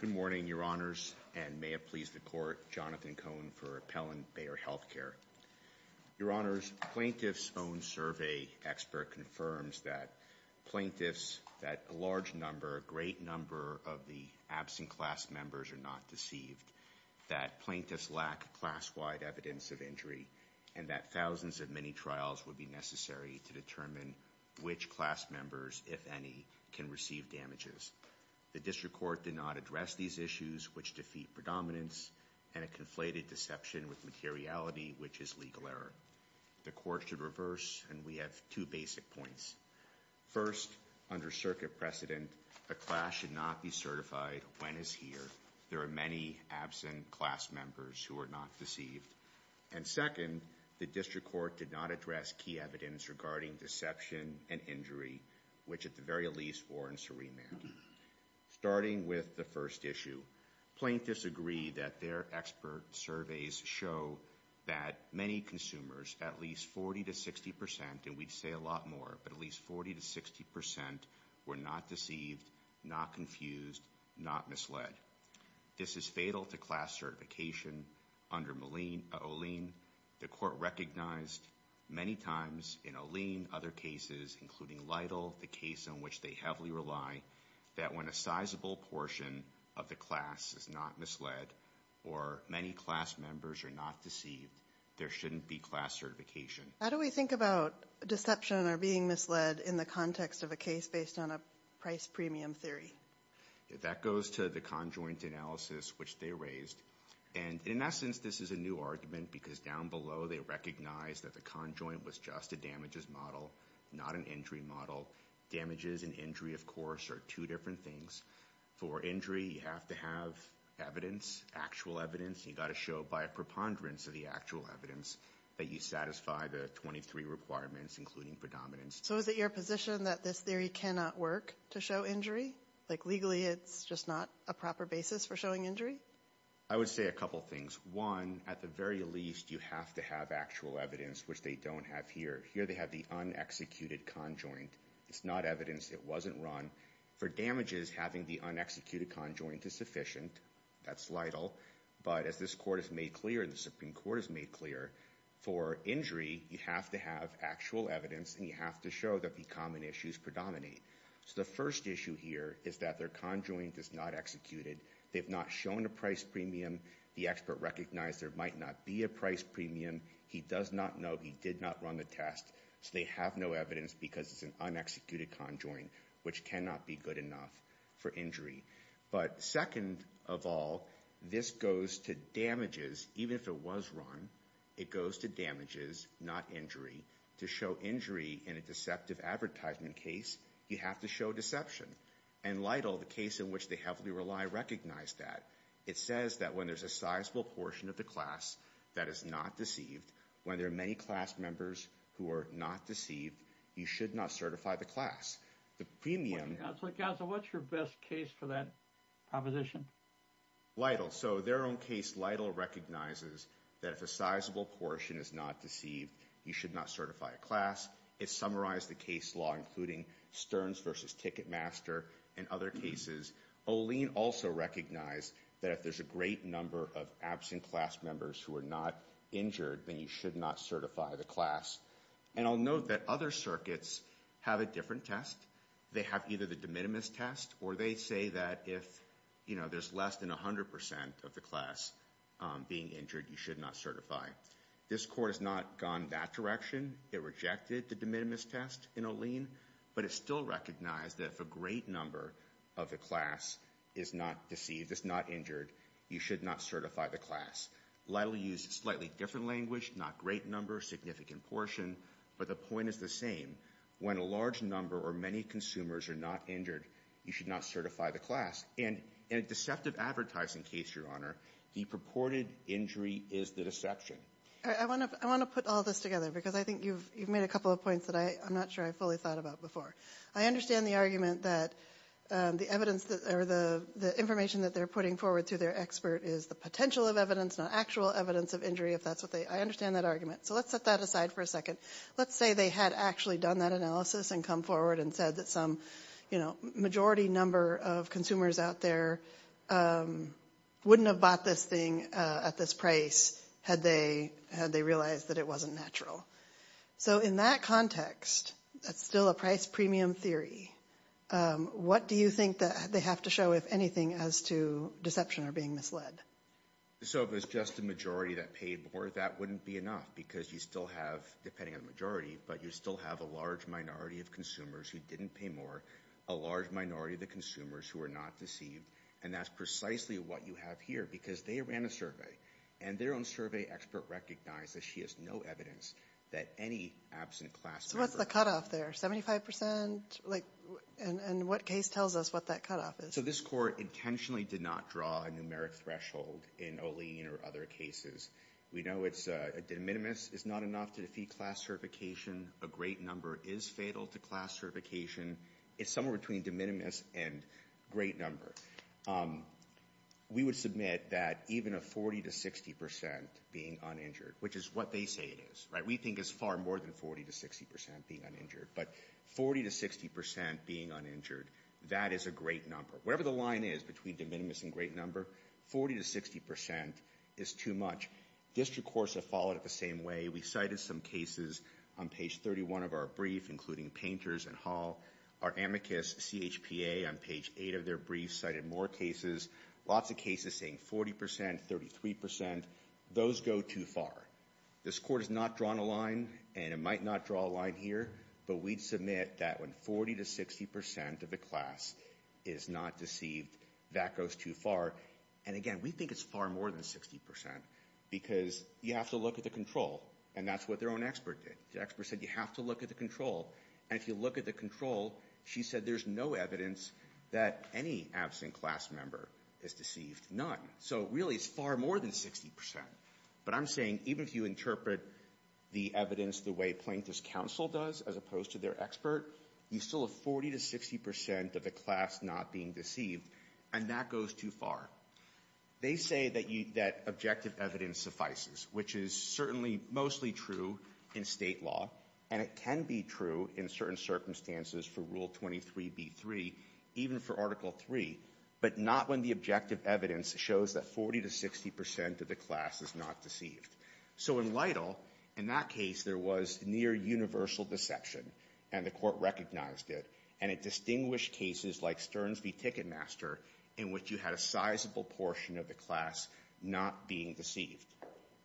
Good morning, Your Honors, and may it please the Court, Jonathan Cohn for Appellant Bayer Healthcare. Your Honors, Plaintiff's own survey expert confirms that plaintiffs, that a large number, a great number of the absent class members are not deceived, that plaintiffs lack class-wide evidence of injury, and that thousands of mini-trials would be necessary to determine which class members, if any, can receive damages. The District Court did not address these issues, which defeat predominance, and a conflated deception with materiality, which is legal error. The Court should reverse, and we have two basic points. First, under circuit precedent, a class should not be certified when it's here. There are many absent class members who are not deceived. And second, the District Court did not address key evidence regarding deception and injury, which at the very least were in surremand. Starting with the first issue, plaintiffs agree that their expert surveys show that many consumers, at least 40 to 60 percent, and we'd say a lot more, but at least 40 to 60 percent, were not deceived, not confused, not misled. This is fatal to class certification. Under Olien, the Court recognized many times in Olien other cases, including Lytle, the case on which they heavily rely, that when a sizable portion of the class is not misled or many class members are not deceived, there shouldn't be class certification. How do we think about deception or being misled in the context of a case based on a price premium theory? That goes to the conjoint analysis, which they raised. And in essence, this is a new argument, because down below they recognized that the conjoint was just a damages model, not an injury model. Damages and injury, of course, are two different things. For injury, you have to have evidence, actual evidence, and you've got to show by a preponderance of the actual evidence that you satisfy the 23 requirements, including predominance. So is it your position that this theory cannot work to show injury? Like legally, it's just not a proper basis for showing injury? I would say a couple things. One, at the very least, you have to have actual evidence, which they don't have here. Here they have the unexecuted conjoint. It's not evidence. It wasn't run. For damages, having the unexecuted conjoint is sufficient. That's Lytle. But as this court has made clear, and the Supreme Court has made clear, for injury, you have to have actual evidence, and you have to show that the common issues predominate. So the first issue here is that their conjoint is not executed. They've not shown a price premium. The expert recognized there might not be a price premium. He does not know. He did not run the test. So they have no evidence, because it's an unexecuted conjoint, which cannot be good enough for injury. But second of all, this goes to damages, even if it was run. It goes to damages, not injury. To show injury in a deceptive advertisement case, you have to show deception. And Lytle, the case in which they heavily rely, recognized that. It says that when there's a sizable portion of the class that is not deceived, when there are many class members who are not deceived, you should not certify the class. The premium... Counsel, what's your best case for that proposition? Lytle, so their own case, Lytle recognizes that if a sizable portion is not deceived, you should not certify a class. It summarized the case law, including Stearns versus Ticketmaster, and other cases. Olien also recognized that if there's a great number of absent class members who are not injured, then you should not certify the class. And I'll note that other circuits have a different test. They have either the de minimis test, or they say that if there's less than 100% of the class being injured, you should not certify. This court has not gone that direction. It rejected the de minimis test in Olien, but it still recognized that if a great number of the class is not deceived, is not injured, you should not certify the class. Lytle used slightly different language, not great number, significant portion, but the point is the same. When a large number or many consumers are not injured, you should not certify the class. And in a deceptive advertising case, Your Honor, the purported injury is the deception. I want to put all this together, because I think you've made a couple of points that I'm not sure I fully thought about before. I understand the argument that the evidence, or the information that they're putting forward to their expert is the potential of evidence, not actual evidence of injury, if that's what they, I understand that argument. So let's set that aside for a second. Let's say they had actually done that analysis and come forward and said that some majority number of consumers out there wouldn't have bought this thing at this price had they realized that it wasn't natural. So in that context, that's still a price premium theory. What do you think that they have to show, if anything, as to deception or being misled? So if it's just the majority that paid more, that wouldn't be enough, because you still have, depending on the majority, but you still have a large minority of consumers who didn't pay more, a large minority of the consumers who are not deceived, and that's precisely what you have here, because they ran a survey. And their own survey expert recognized that she has no evidence that any absent class member- So what's the cutoff there? 75%? Like, and what case tells us what that cutoff is? So this court intentionally did not draw a numeric threshold in Olean or other cases. We know it's, de minimis is not enough to defeat class certification, a great number is fatal to class certification, it's somewhere between de minimis and great number. We would submit that even a 40 to 60% being uninjured, which is what they say it is, right? We think it's far more than 40 to 60% being uninjured, but 40 to 60% being uninjured, that is a great number. Whatever the line is between de minimis and great number, 40 to 60% is too much. District courts have followed it the same way. We cited some cases on page 31 of our brief, including Painters and Hall. Our amicus CHPA on page 8 of their brief cited more cases, lots of cases saying 40%, 33%. Those go too far. This court has not drawn a line, and it might not draw a line here, but we'd submit that when 40 to 60% of the class is not deceived, that goes too far, and again, we think it's far more than 60% because you have to look at the control, and that's what their own expert did. The expert said you have to look at the control, and if you look at the control, she said there's no evidence that any absent class member is deceived, none. So really it's far more than 60%, but I'm saying even if you interpret the evidence the way Plaintiff's counsel does, as opposed to their expert, you still have 40 to 60% of the class not being deceived, and that goes too far. They say that objective evidence suffices, which is certainly mostly true in state law, and it can be true in certain circumstances for Rule 23B3, even for Article 3, but not when the objective evidence shows that 40 to 60% of the class is not deceived. So in Lytle, in that case, there was near universal deception, and the court recognized it, and it distinguished cases like Stearns v. Ticketmaster, in which you had a sizable portion of the class not being deceived.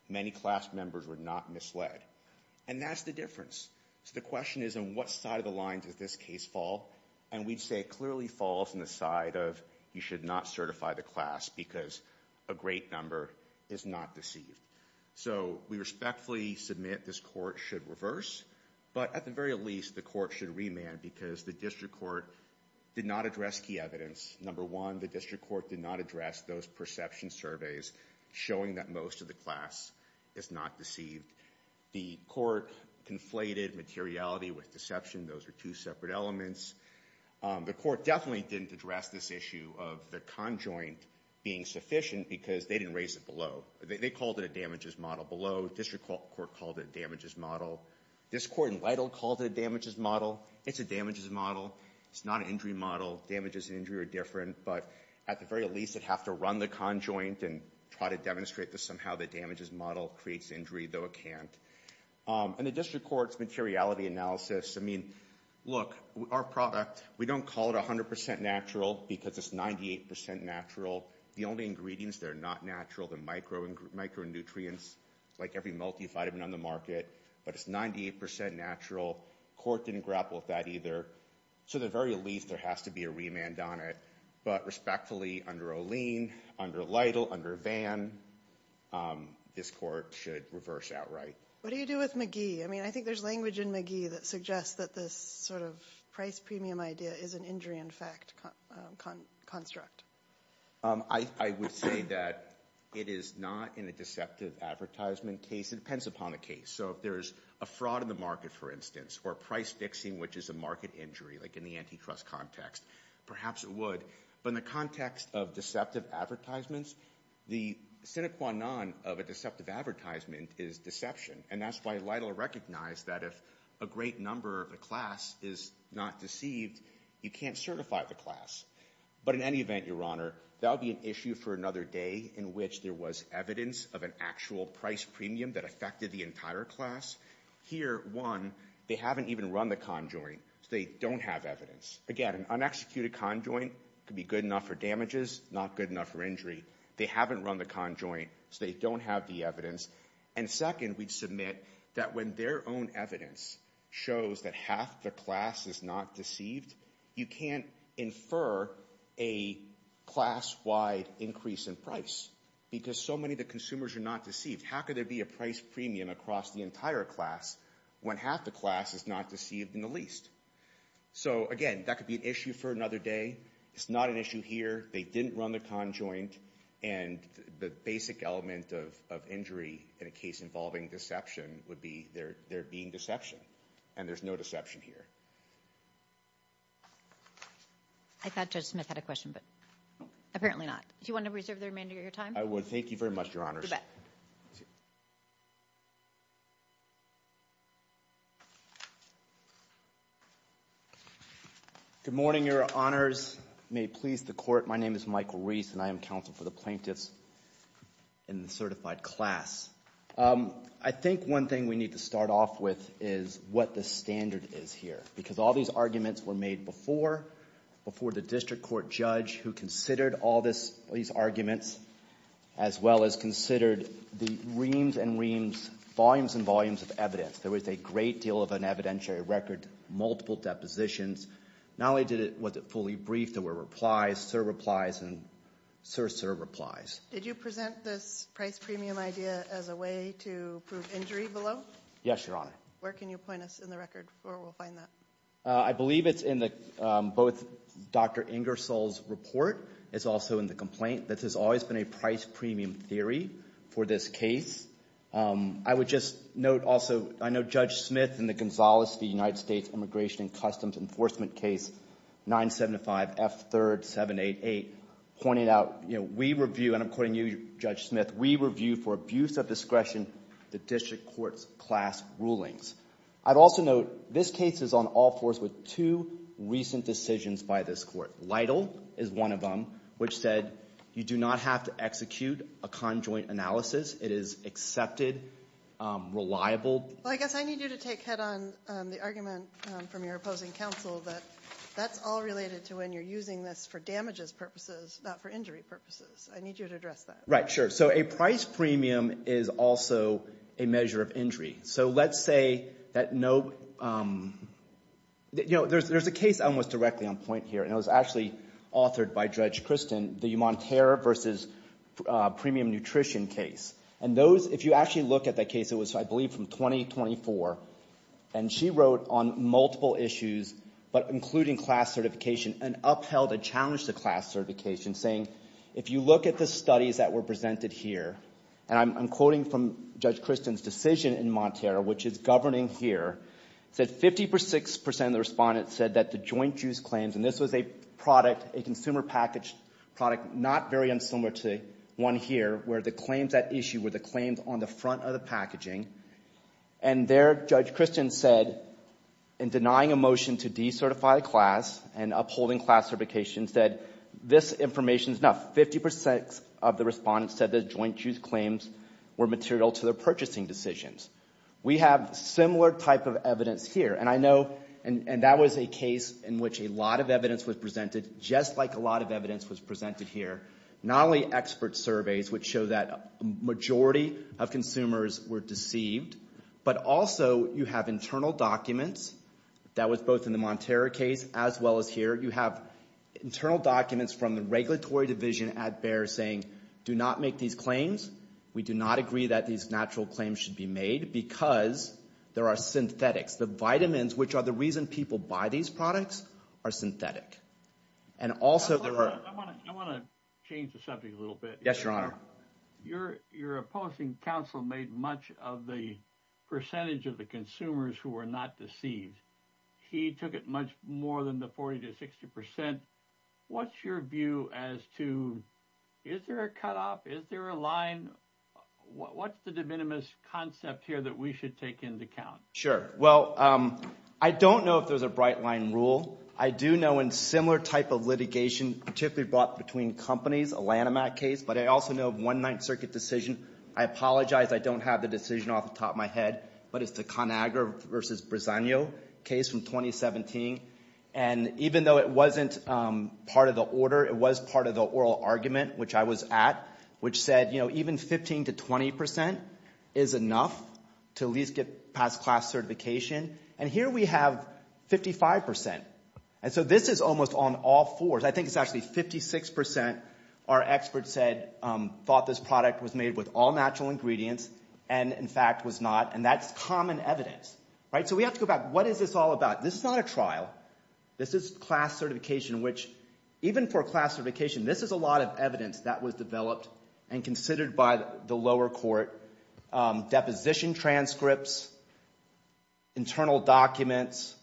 Many class members were not misled, and that's the difference. So the question is, on what side of the line does this case fall? And we'd say it clearly falls on the side of you should not certify the class because a great number is not deceived. So we respectfully submit this court should reverse, but at the very least, the court should remand because the district court did not address key evidence. Number one, the district court did not address those perception surveys showing that most of the class is not deceived. The court conflated materiality with deception. Those are two separate elements. The court definitely didn't address this issue of the conjoint being sufficient because they didn't raise it below. They called it a damages model below. District court called it a damages model. This court in Lytle called it a damages model. It's a damages model. It's not an injury model. Damages and injury are different, but at the very least, it'd have to run the conjoint and try to demonstrate that somehow the damages model creates injury, though it can't. And the district court's materiality analysis, I mean, look, our product, we don't call it 100% natural because it's 98% natural. The only ingredients that are not natural, the micronutrients, like every multivitamin on the market, but it's 98% natural. Court didn't grapple with that either. So at the very least, there has to be a remand on it, but respectfully, under Olene, under Lytle, under Vann, this court should reverse outright. What do you do with McGee? I mean, I think there's language in McGee that suggests that this sort of price premium idea is an injury in fact construct. I would say that it is not in a deceptive advertisement case. It depends upon the case. So if there's a fraud in the market, for instance, or price fixing, which is a market injury, like in the antitrust context, perhaps it would. But in the context of deceptive advertisements, the sine qua non of a deceptive advertisement is deception. And that's why Lytle recognized that if a great number of the class is not deceived, you can't certify the class. But in any event, Your Honor, that would be an issue for another day in which there was evidence of an actual price premium that affected the entire class. Here, one, they haven't even run the conjoint, so they don't have evidence. Again, an unexecuted conjoint could be good enough for damages, not good enough for injury. They haven't run the conjoint, so they don't have the evidence. And second, we'd submit that when their own evidence shows that half the class is not deceived, you can't infer a class-wide increase in price because so many of the consumers are not deceived. How could there be a price premium across the entire class when half the class is not deceived in the least? So again, that could be an issue for another day. It's not an issue here. They didn't run the conjoint. And the basic element of injury in a case involving deception would be there being deception. And there's no deception here. I thought Judge Smith had a question, but apparently not. Do you want to reserve the remainder of your time? I would. Thank you very much, Your Honor. You bet. Good morning, Your Honors. May it please the Court. My name is Michael Reese, and I am counsel for the plaintiffs in the certified class. I think one thing we need to start off with is what the standard is here because all these arguments were made before, before the district court judge who considered all these arguments as well as considered the reams and reams, volumes and volumes of evidence. There was a great deal of an evidentiary record, multiple depositions. Not only was it fully briefed, there were replies, sur-replies, and sur-sur-replies. Did you present this price premium idea as a way to prove injury below? Yes, Your Honor. Where can you point us in the record where we'll find that? I believe it's in both Dr. Ingersoll's report, it's also in the complaint. This has always been a price premium theory for this case. I would just note also, I know Judge Smith in the Gonzales v. United States Immigration and Customs Enforcement Case 975F3rd788 pointed out, you know, we review, and I'm quoting you, Judge Smith, we review for abuse of discretion the district court's class rulings. I'd also note this case is on all fours with two recent decisions by this court. Lytle is one of them, which said you do not have to execute a conjoint analysis, it is accepted, reliable. Well, I guess I need you to take head on the argument from your opposing counsel that that's all related to when you're using this for damages purposes, not for injury purposes. I need you to address that. Right, sure. So a price premium is also a measure of injury. So let's say that no, you know, there's a case almost directly on point here, and it was, if you actually look at that case, it was, I believe, from 2024. And she wrote on multiple issues, but including class certification, and upheld a challenge to class certification, saying, if you look at the studies that were presented here, and I'm quoting from Judge Christen's decision in Montero, which is governing here, said 50 per 6 percent of the respondents said that the joint use claims, and this was a product, a consumer packaged product, not very unsimilar to one here, where the claims at issue, where the claims on the front of the packaging, and there, Judge Christen said, in denying a motion to decertify a class, and upholding class certification, said, this information is not 50 per 6 of the respondents said that the joint use claims were material to their purchasing decisions. We have similar type of evidence here, and I know, and that was a case in which a lot of evidence was presented, just like a lot of evidence was presented here. Not only expert surveys, which show that a majority of consumers were deceived, but also, you have internal documents, that was both in the Montero case, as well as here. You have internal documents from the regulatory division at Bayer, saying, do not make these We do not agree that these natural claims should be made, because there are synthetics. The vitamins, which are the reason people buy these products, are synthetic. And also, I want to change the subject a little bit. Yes, Your Honor. Your opposing counsel made much of the percentage of the consumers who were not deceived. He took it much more than the 40 to 60%. What's your view as to, is there a cut off? Is there a line? What's the de minimis concept here that we should take into account? Sure. Well, I don't know if there's a bright line rule. I do know in similar type of litigation, particularly brought between companies, a Lanham Act case, but I also know of one Ninth Circuit decision. I apologize, I don't have the decision off the top of my head, but it's the ConAgra versus Briseno case from 2017. And even though it wasn't part of the order, it was part of the oral argument, which I was at, which said, you know, even 15 to 20% is enough to at least get past class certification. And here we have 55%. And so this is almost on all fours. I think it's actually 56% are experts said, thought this product was made with all natural ingredients and, in fact, was not. And that's common evidence. Right? So we have to go back. What is this all about? This is not a trial. This is class certification, which even for class certification, this is a lot of evidence that was developed and considered by the lower court, deposition transcripts, internal documents,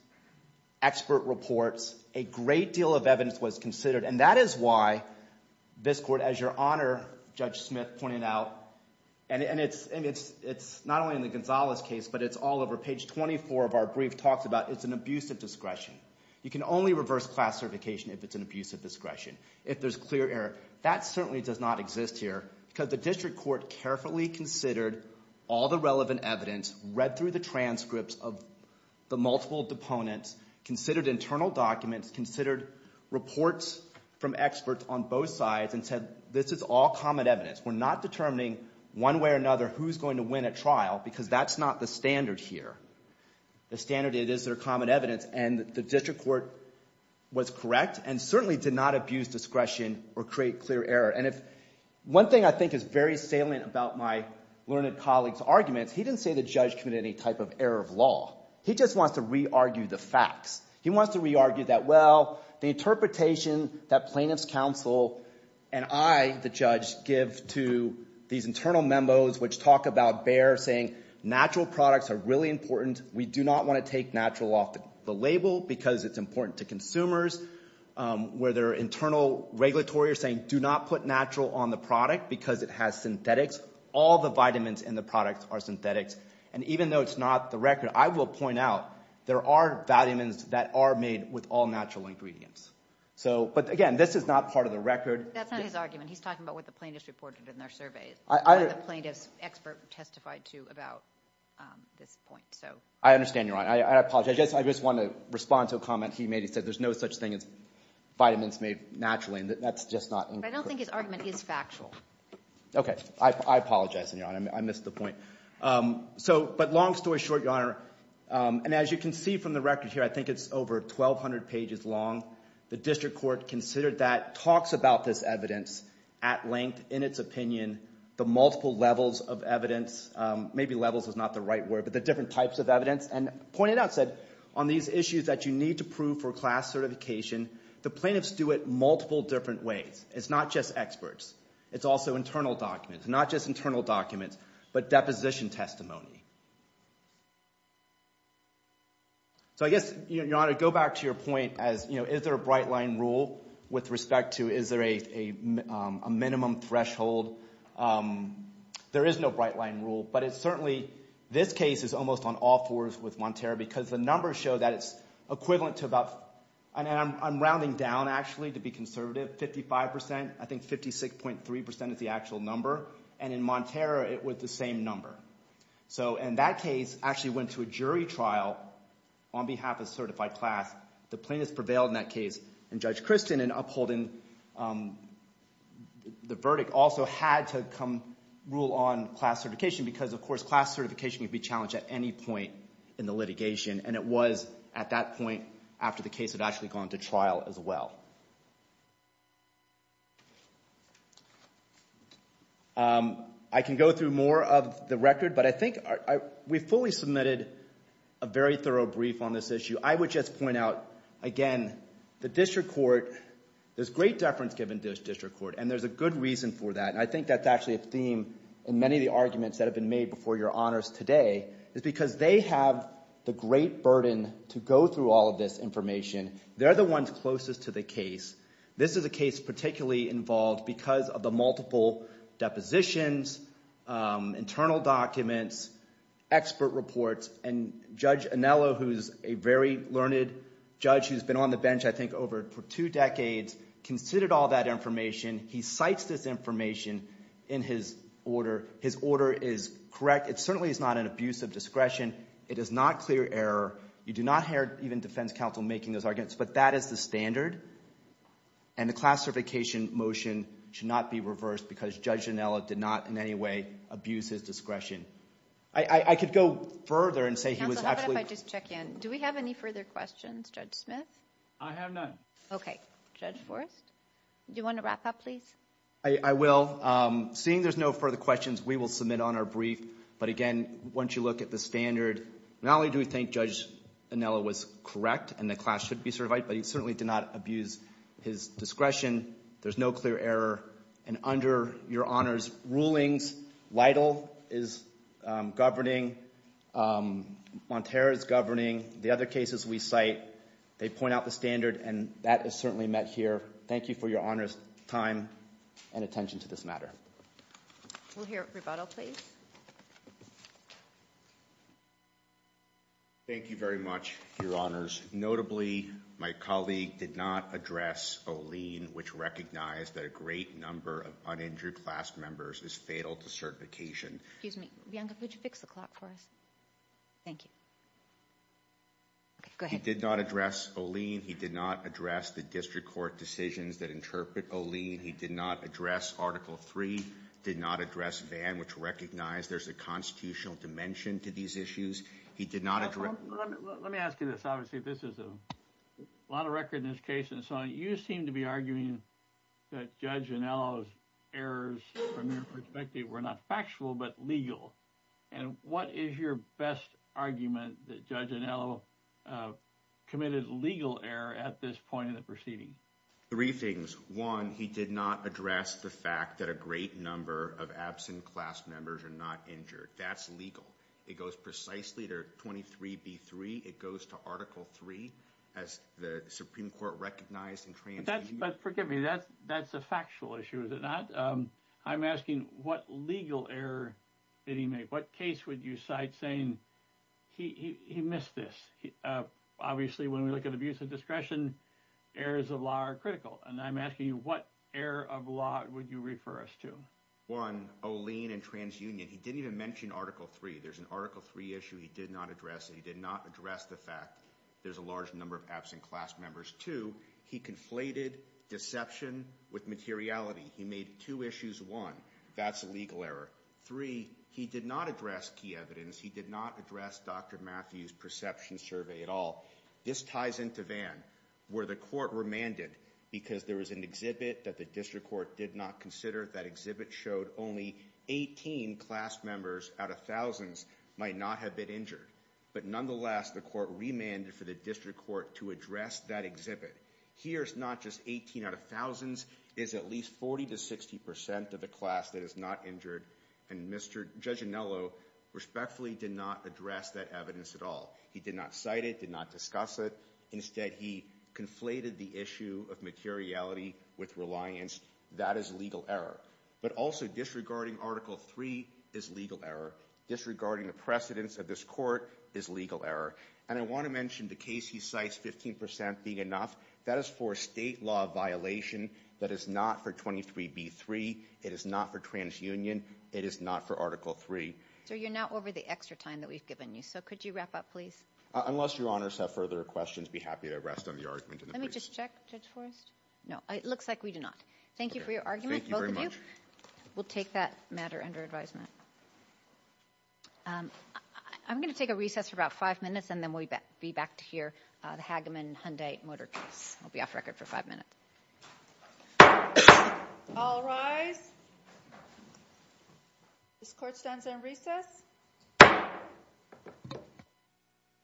expert reports, a great deal of evidence was considered. And that is why this court, as your Honor, Judge Smith pointed out, and it's not only in the Gonzalez case, but it's all over. Page 24 of our brief talks about it's an abusive discretion. You can only reverse class certification if it's an abusive discretion, if there's clear error. That certainly does not exist here because the district court carefully considered all the relevant evidence, read through the transcripts of the multiple deponents, considered internal documents, considered reports from experts on both sides and said, this is all common evidence. We're not determining one way or another who's going to win at trial because that's not the standard here. The standard is there's common evidence and the district court was correct and certainly did not abuse discretion or create clear error. And if one thing I think is very salient about my learned colleague's arguments, he didn't say the judge committed any type of error of law. He just wants to re-argue the facts. He wants to re-argue that, well, the interpretation that plaintiff's counsel and I, the judge, give to these internal memos which talk about Bayer saying natural products are really important. We do not want to take natural off the label because it's important to consumers. Where their internal regulatory are saying, do not put natural on the product because it has synthetics. All the vitamins in the product are synthetics. And even though it's not the record, I will point out there are vitamins that are made with all natural ingredients. So but again, this is not part of the record. That's not his argument. He's talking about what the plaintiff's reported in their surveys, what the plaintiff's expert testified to about this point. I understand, Your Honor. I apologize. I just want to respond to a comment he made. He said there's no such thing as vitamins made naturally. That's just not. But I don't think his argument is factual. Okay. I apologize, Your Honor. I missed the point. So but long story short, Your Honor, and as you can see from the record here, I think it's over 1,200 pages long. The district court considered that, talks about this evidence at length in its opinion, the multiple levels of evidence, maybe levels is not the right word, but the different types of evidence, and pointed out, said, on these issues that you need to prove for class certification, the plaintiffs do it multiple different ways. It's not just experts. It's also internal documents. Not just internal documents, but deposition testimony. So I guess, Your Honor, go back to your point as, you know, is there a bright line rule with respect to, is there a minimum threshold? There is no bright line rule. But it's certainly, this case is almost on all fours with Montero, because the numbers show that it's equivalent to about, and I'm rounding down, actually, to be conservative, 55%, I think 56.3% is the actual number, and in Montero, it was the same number. So in that case, actually went to a jury trial on behalf of certified class. The plaintiffs prevailed in that case. And Judge Christin, in upholding the verdict, also had to come rule on class certification, because of course, class certification can be challenged at any point in the litigation, and it was at that point after the case had actually gone to trial as well. I can go through more of the record, but I think we fully submitted a very thorough brief on this issue. I would just point out, again, the district court, there's great deference given to this district court, and there's a good reason for that. And I think that's actually a theme in many of the arguments that have been made before your honors today, is because they have the great burden to go through all of this information. They're the ones closest to the case. This is a case particularly involved because of the multiple depositions, internal documents, expert reports, and Judge Anello, who's a very learned judge, who's been on the bench, I think, over two decades, considered all that information. He cites this information in his order. His order is correct. It certainly is not an abuse of discretion. It is not clear error. You do not hear even defense counsel making those arguments, but that is the standard. And the class certification motion should not be reversed, because Judge Anello did not, in any way, abuse his discretion. I could go further and say he was actually... Counsel, how about if I just check in? Do we have any further questions, Judge Smith? I have none. Okay. Judge Forrest? Do you want to wrap up, please? I will. Seeing there's no further questions, we will submit on our brief. But again, once you look at the standard, not only do we think Judge Anello was correct and the class should be certified, but he certainly did not abuse his discretion. There's no clear error. And under Your Honor's rulings, Lytle is governing, Montero is governing. The other cases we cite, they point out the standard, and that is certainly met here. Thank you for Your Honor's time and attention to this matter. We'll hear rebuttal, please. Thank you very much, Your Honors. Notably, my colleague did not address O'Lean, which recognized that a great number of uninjured class members is fatal to certification. Excuse me. Bianca, could you fix the clock for us? Thank you. Go ahead. He did not address O'Lean. He did not address the district court decisions that interpret O'Lean. He did not address Article III, did not address Vann, which recognized there's a constitutional dimension to these issues. He did not... This is a lot of record in this case, and so you seem to be arguing that Judge Anello's errors from your perspective were not factual, but legal. And what is your best argument that Judge Anello committed legal error at this point in the proceeding? Three things. One, he did not address the fact that a great number of absent class members are not injured. That's legal. It goes precisely to 23B3. It goes to Article III, as the Supreme Court recognized in TransUnion. But forgive me, that's a factual issue, is it not? I'm asking, what legal error did he make? What case would you cite saying, he missed this? Obviously, when we look at abuse of discretion, errors of law are critical. And I'm asking you, what error of law would you refer us to? One, O'Lean and TransUnion. He didn't even mention Article III. There's an Article III issue he did not address. He did not address the fact there's a large number of absent class members. Two, he conflated deception with materiality. He made two issues, one, that's a legal error. Three, he did not address key evidence. He did not address Dr. Matthews' perception survey at all. This ties into Van, where the court remanded, because there was an exhibit that the district court did not consider. That exhibit showed only 18 class members out of thousands might not have been injured. But nonetheless, the court remanded for the district court to address that exhibit. Here's not just 18 out of thousands, it's at least 40 to 60 percent of the class that is not injured. And Judge Anello respectfully did not address that evidence at all. He did not cite it, did not discuss it. Instead, he conflated the issue of materiality with reliance. That is legal error. But also, disregarding Article III is legal error. Disregarding the precedence of this court is legal error. And I want to mention the case he cites, 15% being enough, that is for a state law violation that is not for 23B3, it is not for transunion, it is not for Article III. Sir, you're now over the extra time that we've given you, so could you wrap up, please? Unless your honors have further questions, I'd be happy to rest on the argument. Let me just check, Judge Forrest. No, it looks like we do not. Thank you for your argument, both of you. We'll take that matter under advisement. I'm going to take a recess for about five minutes, and then we'll be back to hear the Hageman-Hunday motor case. I'll be off record for five minutes. All rise. This court stands on recess.